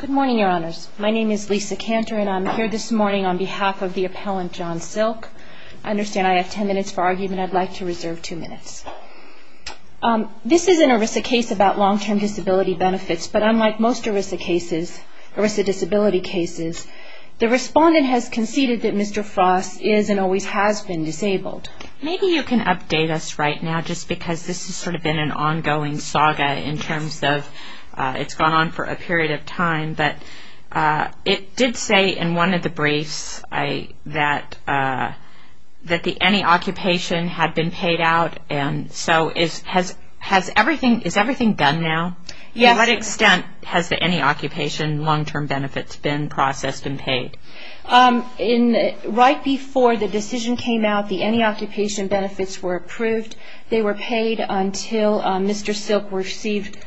Good morning, Your Honors. My name is Lisa Cantor, and I'm here this morning on behalf of the appellant, John Silk. I understand I have ten minutes for argument. I'd like to reserve two minutes. This is an ERISA case about long-term disability benefits, but unlike most ERISA disability cases, the respondent has conceded that Mr. Frost is and always has been disabled. Maybe you can update us right now, just because this has sort of been an ongoing saga in terms of it's gone on for a period of time, but it did say in one of the briefs that the any occupation had been paid out, and so is everything done now? Yes. To what extent has the any occupation long-term benefits been processed and paid? Right before the decision came out, the any occupation benefits were approved. They were paid until Mr. Silk received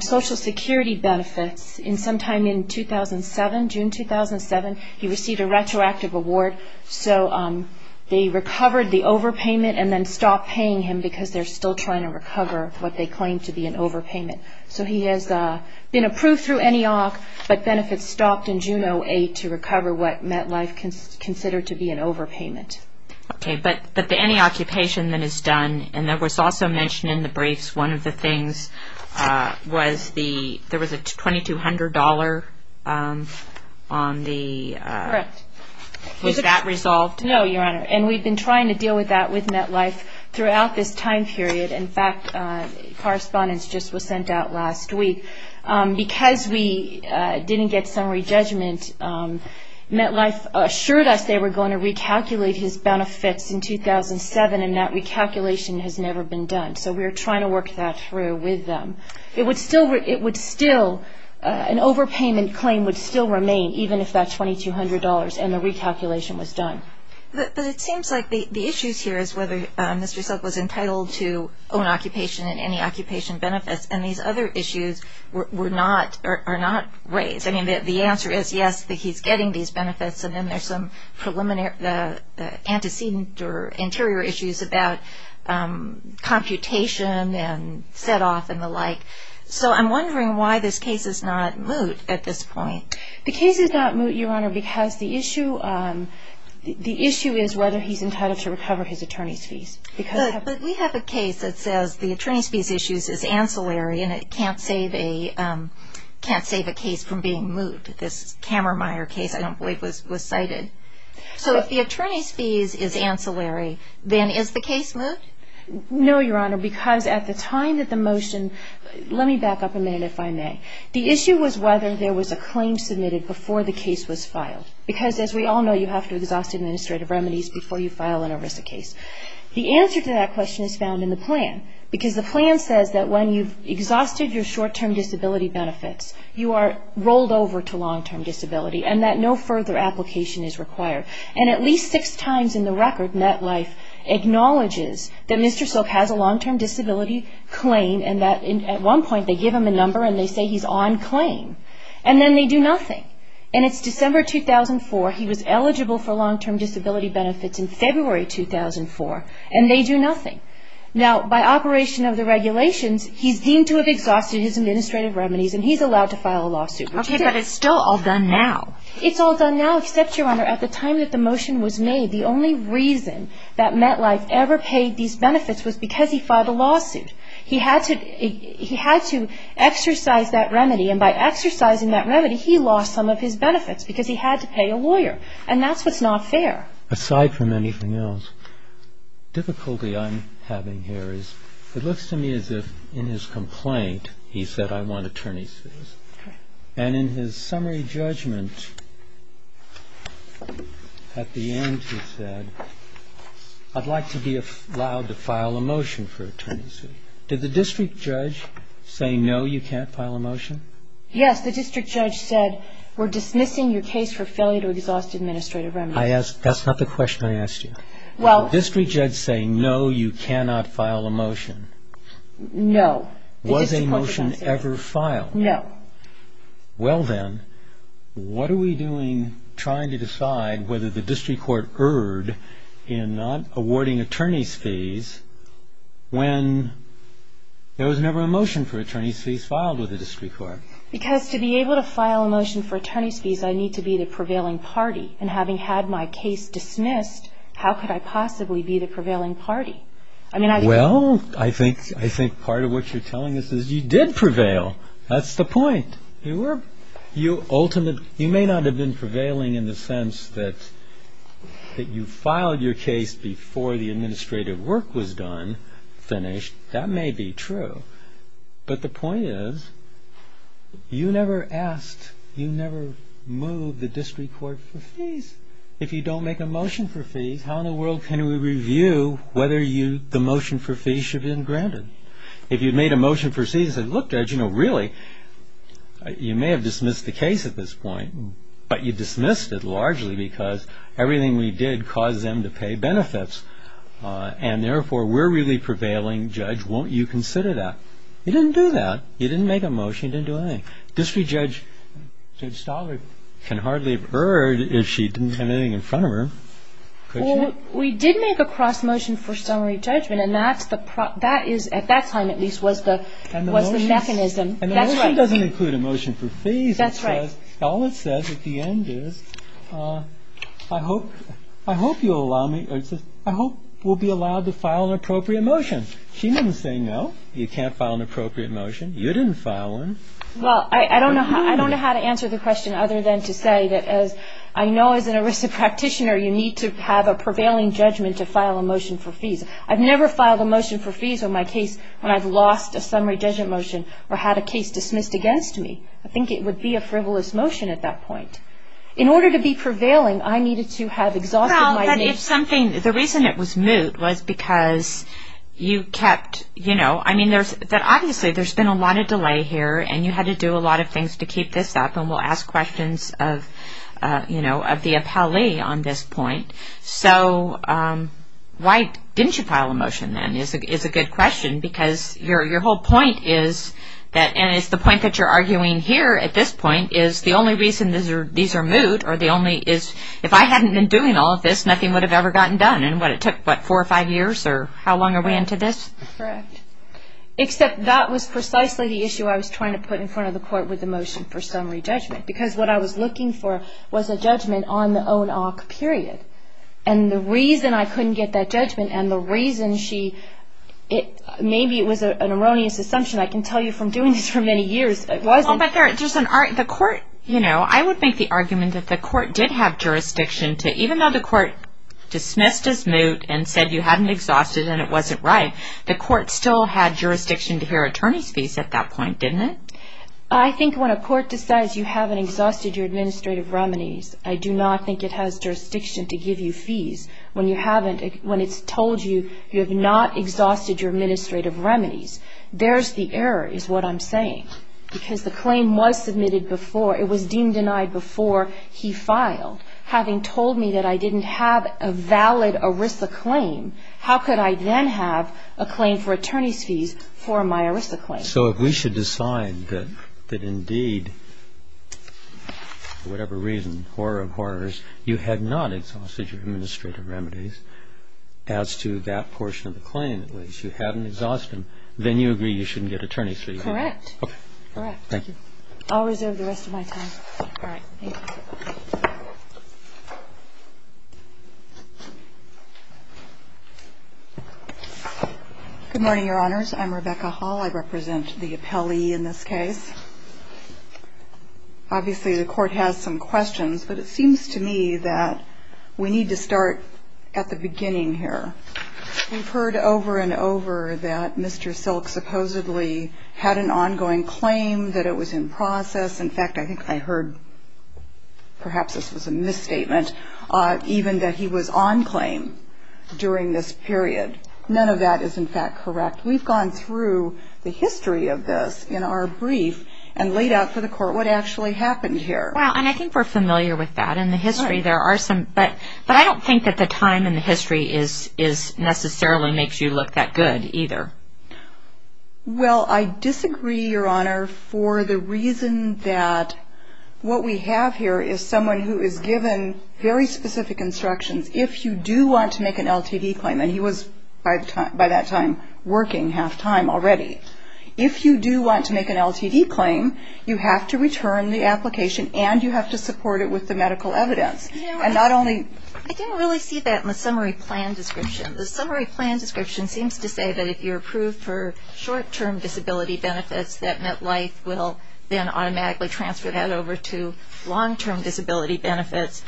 Social Security benefits sometime in 2007, June 2007. He received a retroactive award, so they recovered the overpayment and then stopped paying him because they're still trying to recover what they claim to be an overpayment. So he has been approved through NEOC, but benefits stopped in June 2008 to recover what MetLife considered to be an overpayment. Okay, but the any occupation that is done, and that was also mentioned in the briefs, one of the things was there was a $2,200 on the... Correct. Was that resolved? No, Your Honor, and we've been trying to deal with that with MetLife throughout this time period. In fact, correspondence just was sent out last week. Because we didn't get summary judgment, MetLife assured us they were going to recalculate his benefits in 2007, and that recalculation has never been done, so we're trying to work that through with them. It would still, an overpayment claim would still remain even if that $2,200 and the recalculation was done. But it seems like the issues here is whether Mr. Silk was entitled to own occupation and any occupation benefits, and these other issues are not raised. I mean, the answer is yes, that he's getting these benefits, and then there's some antecedent or interior issues about computation and set off and the like. So I'm wondering why this case is not moot at this point. The case is not moot, Your Honor, because the issue is whether he's entitled to recover his attorney's fees. But we have a case that says the attorney's fees issue is ancillary, and it can't save a case from being moot. This Kammermeier case, I don't believe, was cited. So if the attorney's fees is ancillary, then is the case moot? No, Your Honor, because at the time that the motion – let me back up a minute, if I may. The issue was whether there was a claim submitted before the case was filed. Because as we all know, you have to exhaust administrative remedies before you file an ERISA case. The answer to that question is found in the plan, because the plan says that when you've exhausted your short-term disability benefits, you are rolled over to long-term disability and that no further application is required. And at least six times in the record, NetLife acknowledges that Mr. Silk has a long-term disability claim and that at one point they give him a number and they say he's on claim, and then they do nothing. And it's December 2004, he was eligible for long-term disability benefits in February 2004, and they do nothing. Now, by operation of the regulations, he's deemed to have exhausted his administrative remedies and he's allowed to file a lawsuit. Okay, but it's still all done now. It's all done now, except, Your Honor, at the time that the motion was made, the only reason that NetLife ever paid these benefits was because he filed a lawsuit. He had to exercise that remedy, and by exercising that remedy, he lost some of his benefits because he had to pay a lawyer. And that's what's not fair. Aside from anything else, difficulty I'm having here is it looks to me as if in his complaint, he said, I want attorney's fees. And in his summary judgment, at the end he said, I'd like to be allowed to file a motion for attorney's fee. Did the district judge say, no, you can't file a motion? Yes, the district judge said, we're dismissing your case for failure to exhaust administrative remedies. That's not the question I asked you. Well. Did the district judge say, no, you cannot file a motion? No. Was a motion ever filed? No. Well then, what are we doing trying to decide whether the district court erred in not awarding attorney's fees when there was never a motion for attorney's fees filed with the district court? Because to be able to file a motion for attorney's fees, I need to be the prevailing party. And having had my case dismissed, how could I possibly be the prevailing party? Well, I think part of what you're telling us is you did prevail. That's the point. You may not have been prevailing in the sense that you filed your case before the administrative work was done, finished. That may be true. But the point is, you never asked, you never moved the district court for fees. If you don't make a motion for fees, how in the world can we review whether the motion for fees should be granted? If you made a motion for fees and said, look, Judge, you know, really, you may have dismissed the case at this point, but you dismissed it largely because everything we did caused them to pay benefits. And therefore, we're really prevailing. Judge, won't you consider that? You didn't do that. You didn't make a motion. You didn't do anything. District Judge Stoller can hardly have erred if she didn't have anything in front of her. We did make a cross motion for summary judgment, and that is, at that time at least, was the mechanism. And the motion doesn't include a motion for fees. That's right. All it says at the end is, I hope you'll allow me, I hope we'll be allowed to file an appropriate motion. She didn't say no, you can't file an appropriate motion. You didn't file one. Well, I don't know how to answer the question other than to say that as I know as an ERISA practitioner, you need to have a prevailing judgment to file a motion for fees. I've never filed a motion for fees on my case when I've lost a summary judgment motion or had a case dismissed against me. I think it would be a frivolous motion at that point. In order to be prevailing, I needed to have exhausted my name. The reason it was moot was because you kept, you know, I mean, obviously there's been a lot of delay here, and you had to do a lot of things to keep this up, and we'll ask questions of the appellee on this point. So why didn't you file a motion then is a good question, because your whole point is, and it's the point that you're arguing here at this point, is the only reason these are moot, or the only is if I hadn't been doing all of this, nothing would have ever gotten done. And what, it took, what, four or five years, or how long are we into this? Correct. Except that was precisely the issue I was trying to put in front of the court with the motion for summary judgment, because what I was looking for was a judgment on the own-awk period. And the reason I couldn't get that judgment and the reason she, maybe it was an erroneous assumption, The court, you know, I would make the argument that the court did have jurisdiction to, even though the court dismissed as moot and said you hadn't exhausted and it wasn't right, the court still had jurisdiction to hear attorney's fees at that point, didn't it? I think when a court decides you haven't exhausted your administrative remedies, I do not think it has jurisdiction to give you fees when you haven't, when it's told you you have not exhausted your administrative remedies. There's the error, is what I'm saying. Because the claim was submitted before, it was deemed denied before he filed. Having told me that I didn't have a valid ERISA claim, how could I then have a claim for attorney's fees for my ERISA claim? So if we should decide that indeed, for whatever reason, horror of horrors, you had not exhausted your administrative remedies as to that portion of the claim at least, you hadn't exhausted them, then you agree you shouldn't get attorney's fees. Correct. Okay. Thank you. I'll reserve the rest of my time. All right. Thank you. Good morning, Your Honors. I'm Rebecca Hall. I represent the appellee in this case. Obviously, the court has some questions, but it seems to me that we need to start at the beginning here. We've heard over and over that Mr. Silk supposedly had an ongoing claim, that it was in process. In fact, I think I heard, perhaps this was a misstatement, even that he was on claim during this period. None of that is, in fact, correct. We've gone through the history of this in our brief and laid out for the court what actually happened here. Well, and I think we're familiar with that. But I don't think that the time in the history necessarily makes you look that good either. Well, I disagree, Your Honor, for the reason that what we have here is someone who is given very specific instructions. If you do want to make an LTD claim, and he was, by that time, working half-time already, if you do want to make an LTD claim, you have to return the application and you have to support it with the medical evidence. I didn't really see that in the summary plan description. The summary plan description seems to say that if you're approved for short-term disability benefits, that MetLife will then automatically transfer that over to long-term disability benefits.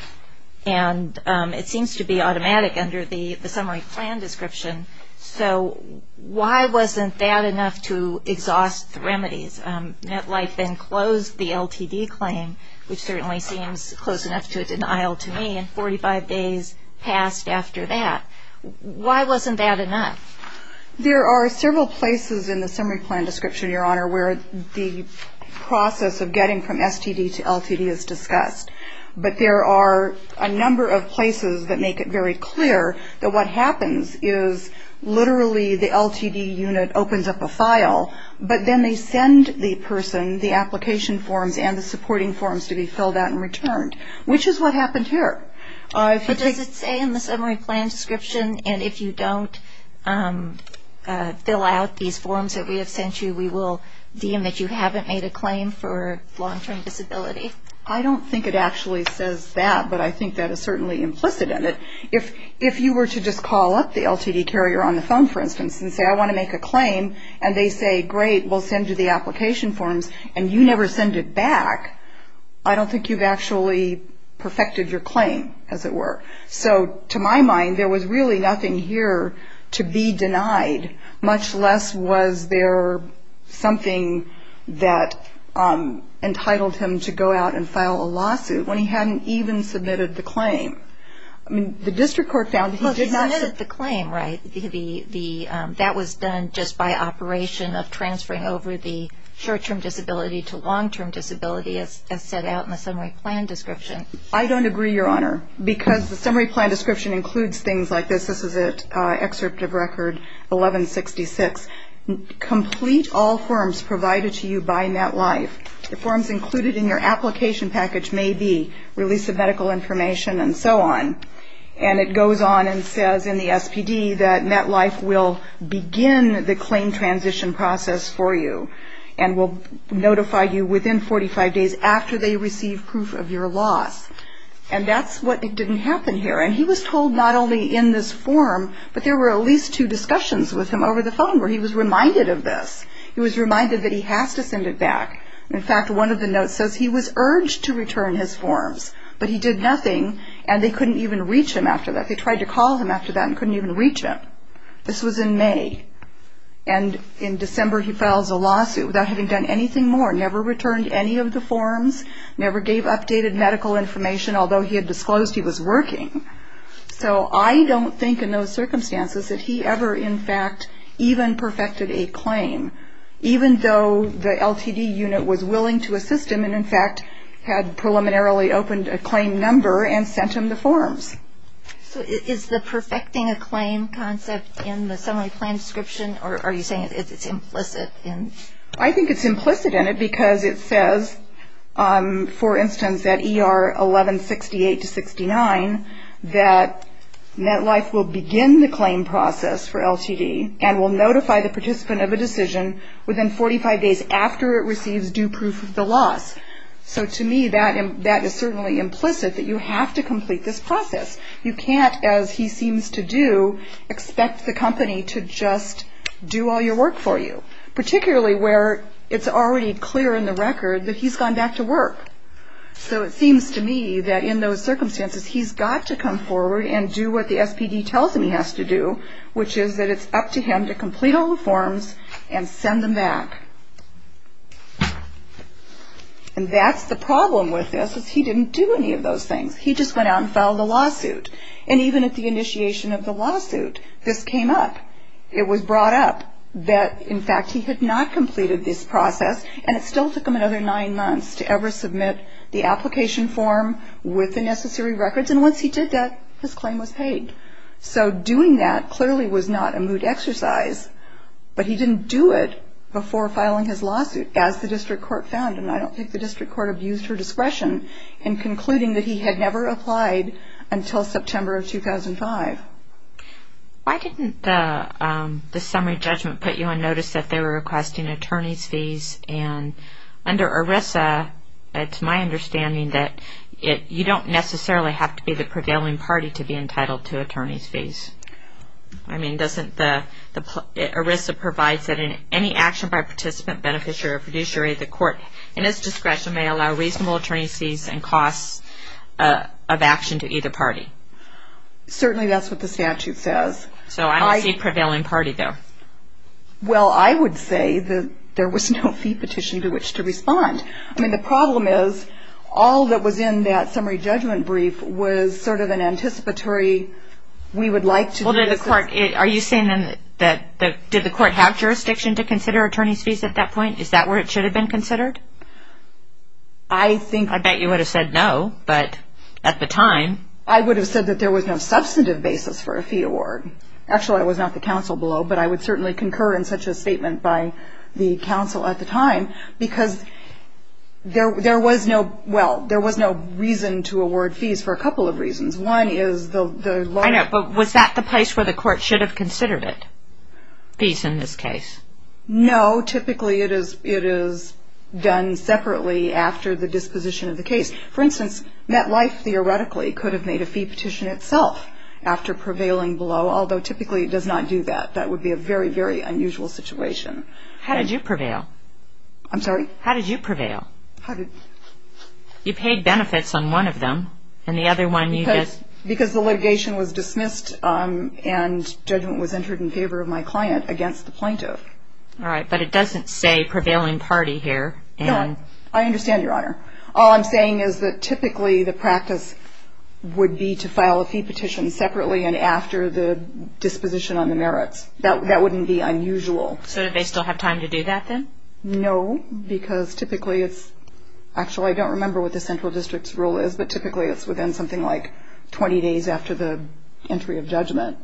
And it seems to be automatic under the summary plan description. So why wasn't that enough to exhaust the remedies? MetLife then closed the LTD claim, which certainly seems close enough to a denial to me, and 45 days passed after that. Why wasn't that enough? There are several places in the summary plan description, Your Honor, where the process of getting from STD to LTD is discussed. But there are a number of places that make it very clear But then they send the person the application forms and the supporting forms to be filled out and returned, which is what happened here. But does it say in the summary plan description, and if you don't fill out these forms that we have sent you, we will deem that you haven't made a claim for long-term disability? I don't think it actually says that, but I think that is certainly implicit in it. If you were to just call up the LTD carrier on the phone, for instance, and say, I want to make a claim, and they say, great, we'll send you the application forms, and you never send it back, I don't think you've actually perfected your claim, as it were. So to my mind, there was really nothing here to be denied, much less was there something that entitled him to go out and file a lawsuit when he hadn't even submitted the claim. The district court found that he did not submit the claim, right? That was done just by operation of transferring over the short-term disability to long-term disability, as set out in the summary plan description. I don't agree, Your Honor, because the summary plan description includes things like this. This is an excerpt of Record 1166. Complete all forms provided to you by MetLife. The forms included in your application package may be release of medical information and so on. And it goes on and says in the SPD that MetLife will begin the claim transition process for you and will notify you within 45 days after they receive proof of your loss. And that's what didn't happen here. And he was told not only in this form, but there were at least two discussions with him over the phone where he was reminded of this. He was reminded that he has to send it back. In fact, one of the notes says he was urged to return his forms, but he did nothing, and they couldn't even reach him after that. They tried to call him after that and couldn't even reach him. This was in May. And in December, he files a lawsuit without having done anything more, never returned any of the forms, never gave updated medical information, although he had disclosed he was working. So I don't think in those circumstances that he ever in fact even perfected a claim, even though the LTD unit was willing to assist him and in fact had preliminarily opened a claim number and sent him the forms. So is the perfecting a claim concept in the summary plan description, or are you saying it's implicit? I think it's implicit in it because it says, for instance, that ER 1168-69, that NetLife will begin the claim process for LTD and will notify the participant of a decision within 45 days after it receives due proof of the loss. So to me, that is certainly implicit that you have to complete this process. You can't, as he seems to do, expect the company to just do all your work for you, particularly where it's already clear in the record that he's gone back to work. So it seems to me that in those circumstances, he's got to come forward and do what the SPD tells him he has to do, which is that it's up to him to complete all the forms and send them back. And that's the problem with this is he didn't do any of those things. He just went out and filed a lawsuit. And even at the initiation of the lawsuit, this came up. It was brought up that, in fact, he had not completed this process, and it still took him another nine months to ever submit the application form with the necessary records, and once he did that, his claim was paid. So doing that clearly was not a moot exercise, but he didn't do it before filing his lawsuit, as the district court found, and I don't think the district court abused her discretion in concluding that he had never applied until September of 2005. Why didn't the summary judgment put you on notice that they were requesting attorney's fees? And under ERISA, it's my understanding that you don't necessarily have to be the prevailing party to be entitled to attorney's fees. I mean, doesn't the ERISA provide that in any action by participant, beneficiary, or fiduciary, the court, in its discretion, may allow reasonable attorney's fees and costs of action to either party? Certainly, that's what the statute says. So I don't see prevailing party, though. Well, I would say that there was no fee petition to which to respond. I mean, the problem is, all that was in that summary judgment brief was sort of an anticipatory, we would like to do this. Well, did the court, are you saying then that, did the court have jurisdiction to consider attorney's fees at that point? Is that where it should have been considered? I think... I bet you would have said no, but at the time... I would have said that there was no substantive basis for a fee award. Actually, it was not the counsel below, but I would certainly concur in such a statement by the counsel at the time because there was no, well, there was no reason to award fees for a couple of reasons. One is the lawyer... I know, but was that the place where the court should have considered it? Fees in this case? No, typically it is done separately after the disposition of the case. For instance, MetLife theoretically could have made a fee petition itself after prevailing below, although typically it does not do that. That would be a very, very unusual situation. How did you prevail? I'm sorry? How did you prevail? How did... You paid benefits on one of them, and the other one you just... Because the litigation was dismissed and judgment was entered in favor of my client against the plaintiff. All right, but it doesn't say prevailing party here. No, I understand, Your Honor. All I'm saying is that typically the practice would be to file a fee petition separately and after the disposition on the merits. That wouldn't be unusual. So do they still have time to do that then? No, because typically it's... Actually, I don't remember what the central district's rule is, but typically it's within something like 20 days after the entry of judgment.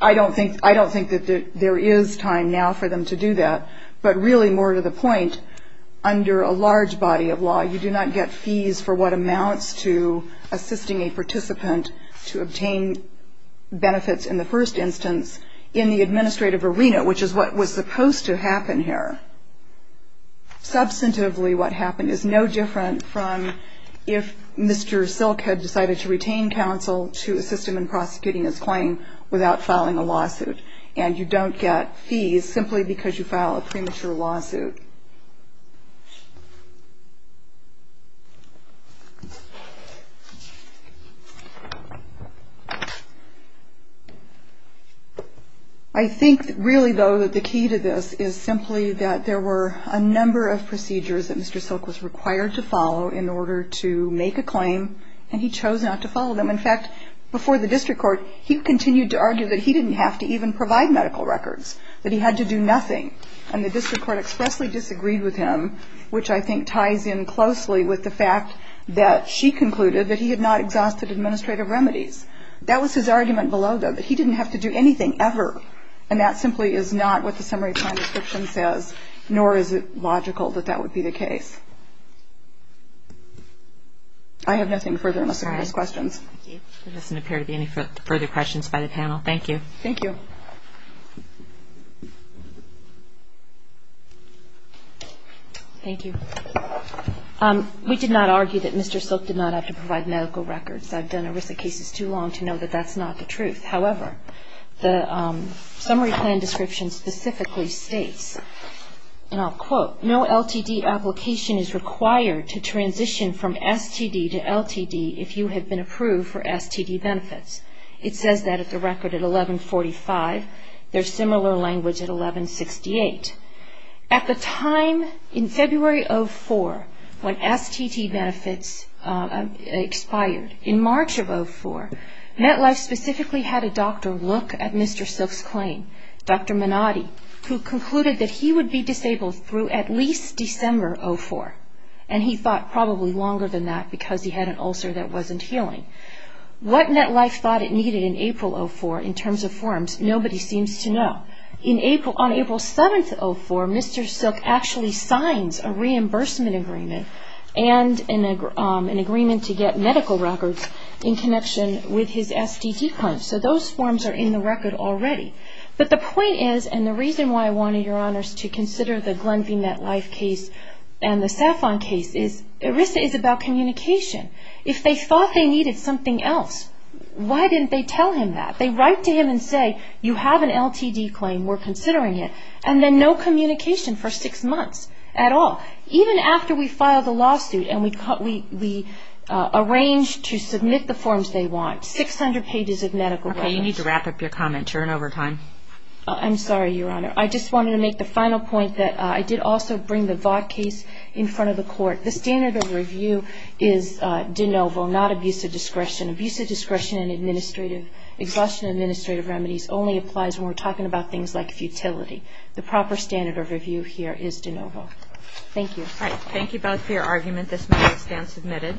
I don't think that there is time now for them to do that, but really more to the point, under a large body of law, you do not get fees for what amounts to assisting a participant to obtain benefits in the first instance in the administrative arena, which is what was supposed to happen here. Substantively what happened is no different from if Mr. Silk had decided to retain counsel to assist him in prosecuting his claim without filing a lawsuit, and you don't get fees simply because you file a premature lawsuit. I think, really, though, that the key to this is simply that there were a number of procedures that Mr. Silk was required to follow in order to make a claim, and he chose not to follow them. In fact, before the district court, he continued to argue that he didn't have to even provide medical records, that he had to do nothing, which I think ties in closely with the fact that she concluded that he had not exhausted administrative remedies. That was his argument below, though, that he didn't have to do anything ever, and that simply is not what the summary plan description says, nor is it logical that that would be the case. I have nothing further unless there are no questions. MS. MCGOWAN. There doesn't appear to be any further questions by the panel. Thank you. Thank you. We did not argue that Mr. Silk did not have to provide medical records. I've done ERISA cases too long to know that that's not the truth. However, the summary plan description specifically states, and I'll quote, no LTD application is required to transition from STD to LTD if you have been approved for STD benefits. It says that at the record at 1145. There's similar language at 1168. At the time in February of 04, when STD benefits expired, in March of 04, NetLife specifically had a doctor look at Mr. Silk's claim, Dr. Minotti, who concluded that he would be disabled through at least December of 04, and he thought probably longer than that because he had an ulcer that wasn't healing. What NetLife thought it needed in April of 04 in terms of forms, nobody seems to know. On April 7th of 04, Mr. Silk actually signs a reimbursement agreement and an agreement to get medical records in connection with his STD claims. So those forms are in the record already. But the point is, and the reason why I wanted your honors to consider the Glenview NetLife case and the Safon case is ERISA is about communication. If they thought they needed something else, why didn't they tell him that? They write to him and say, you have an LTD claim, we're considering it, and then no communication for six months at all. Even after we filed a lawsuit and we arranged to submit the forms they want, 600 pages of medical records. Okay, you need to wrap up your comment. You're in overtime. I'm sorry, your honor. I just wanted to make the final point that I did also bring the Vought case in front of the court. The standard of review is de novo, not abuse of discretion. Abuse of discretion and exhaustion of administrative remedies only applies when we're talking about things like futility. The proper standard of review here is de novo. Thank you. All right, thank you both for your argument. This matter is now submitted.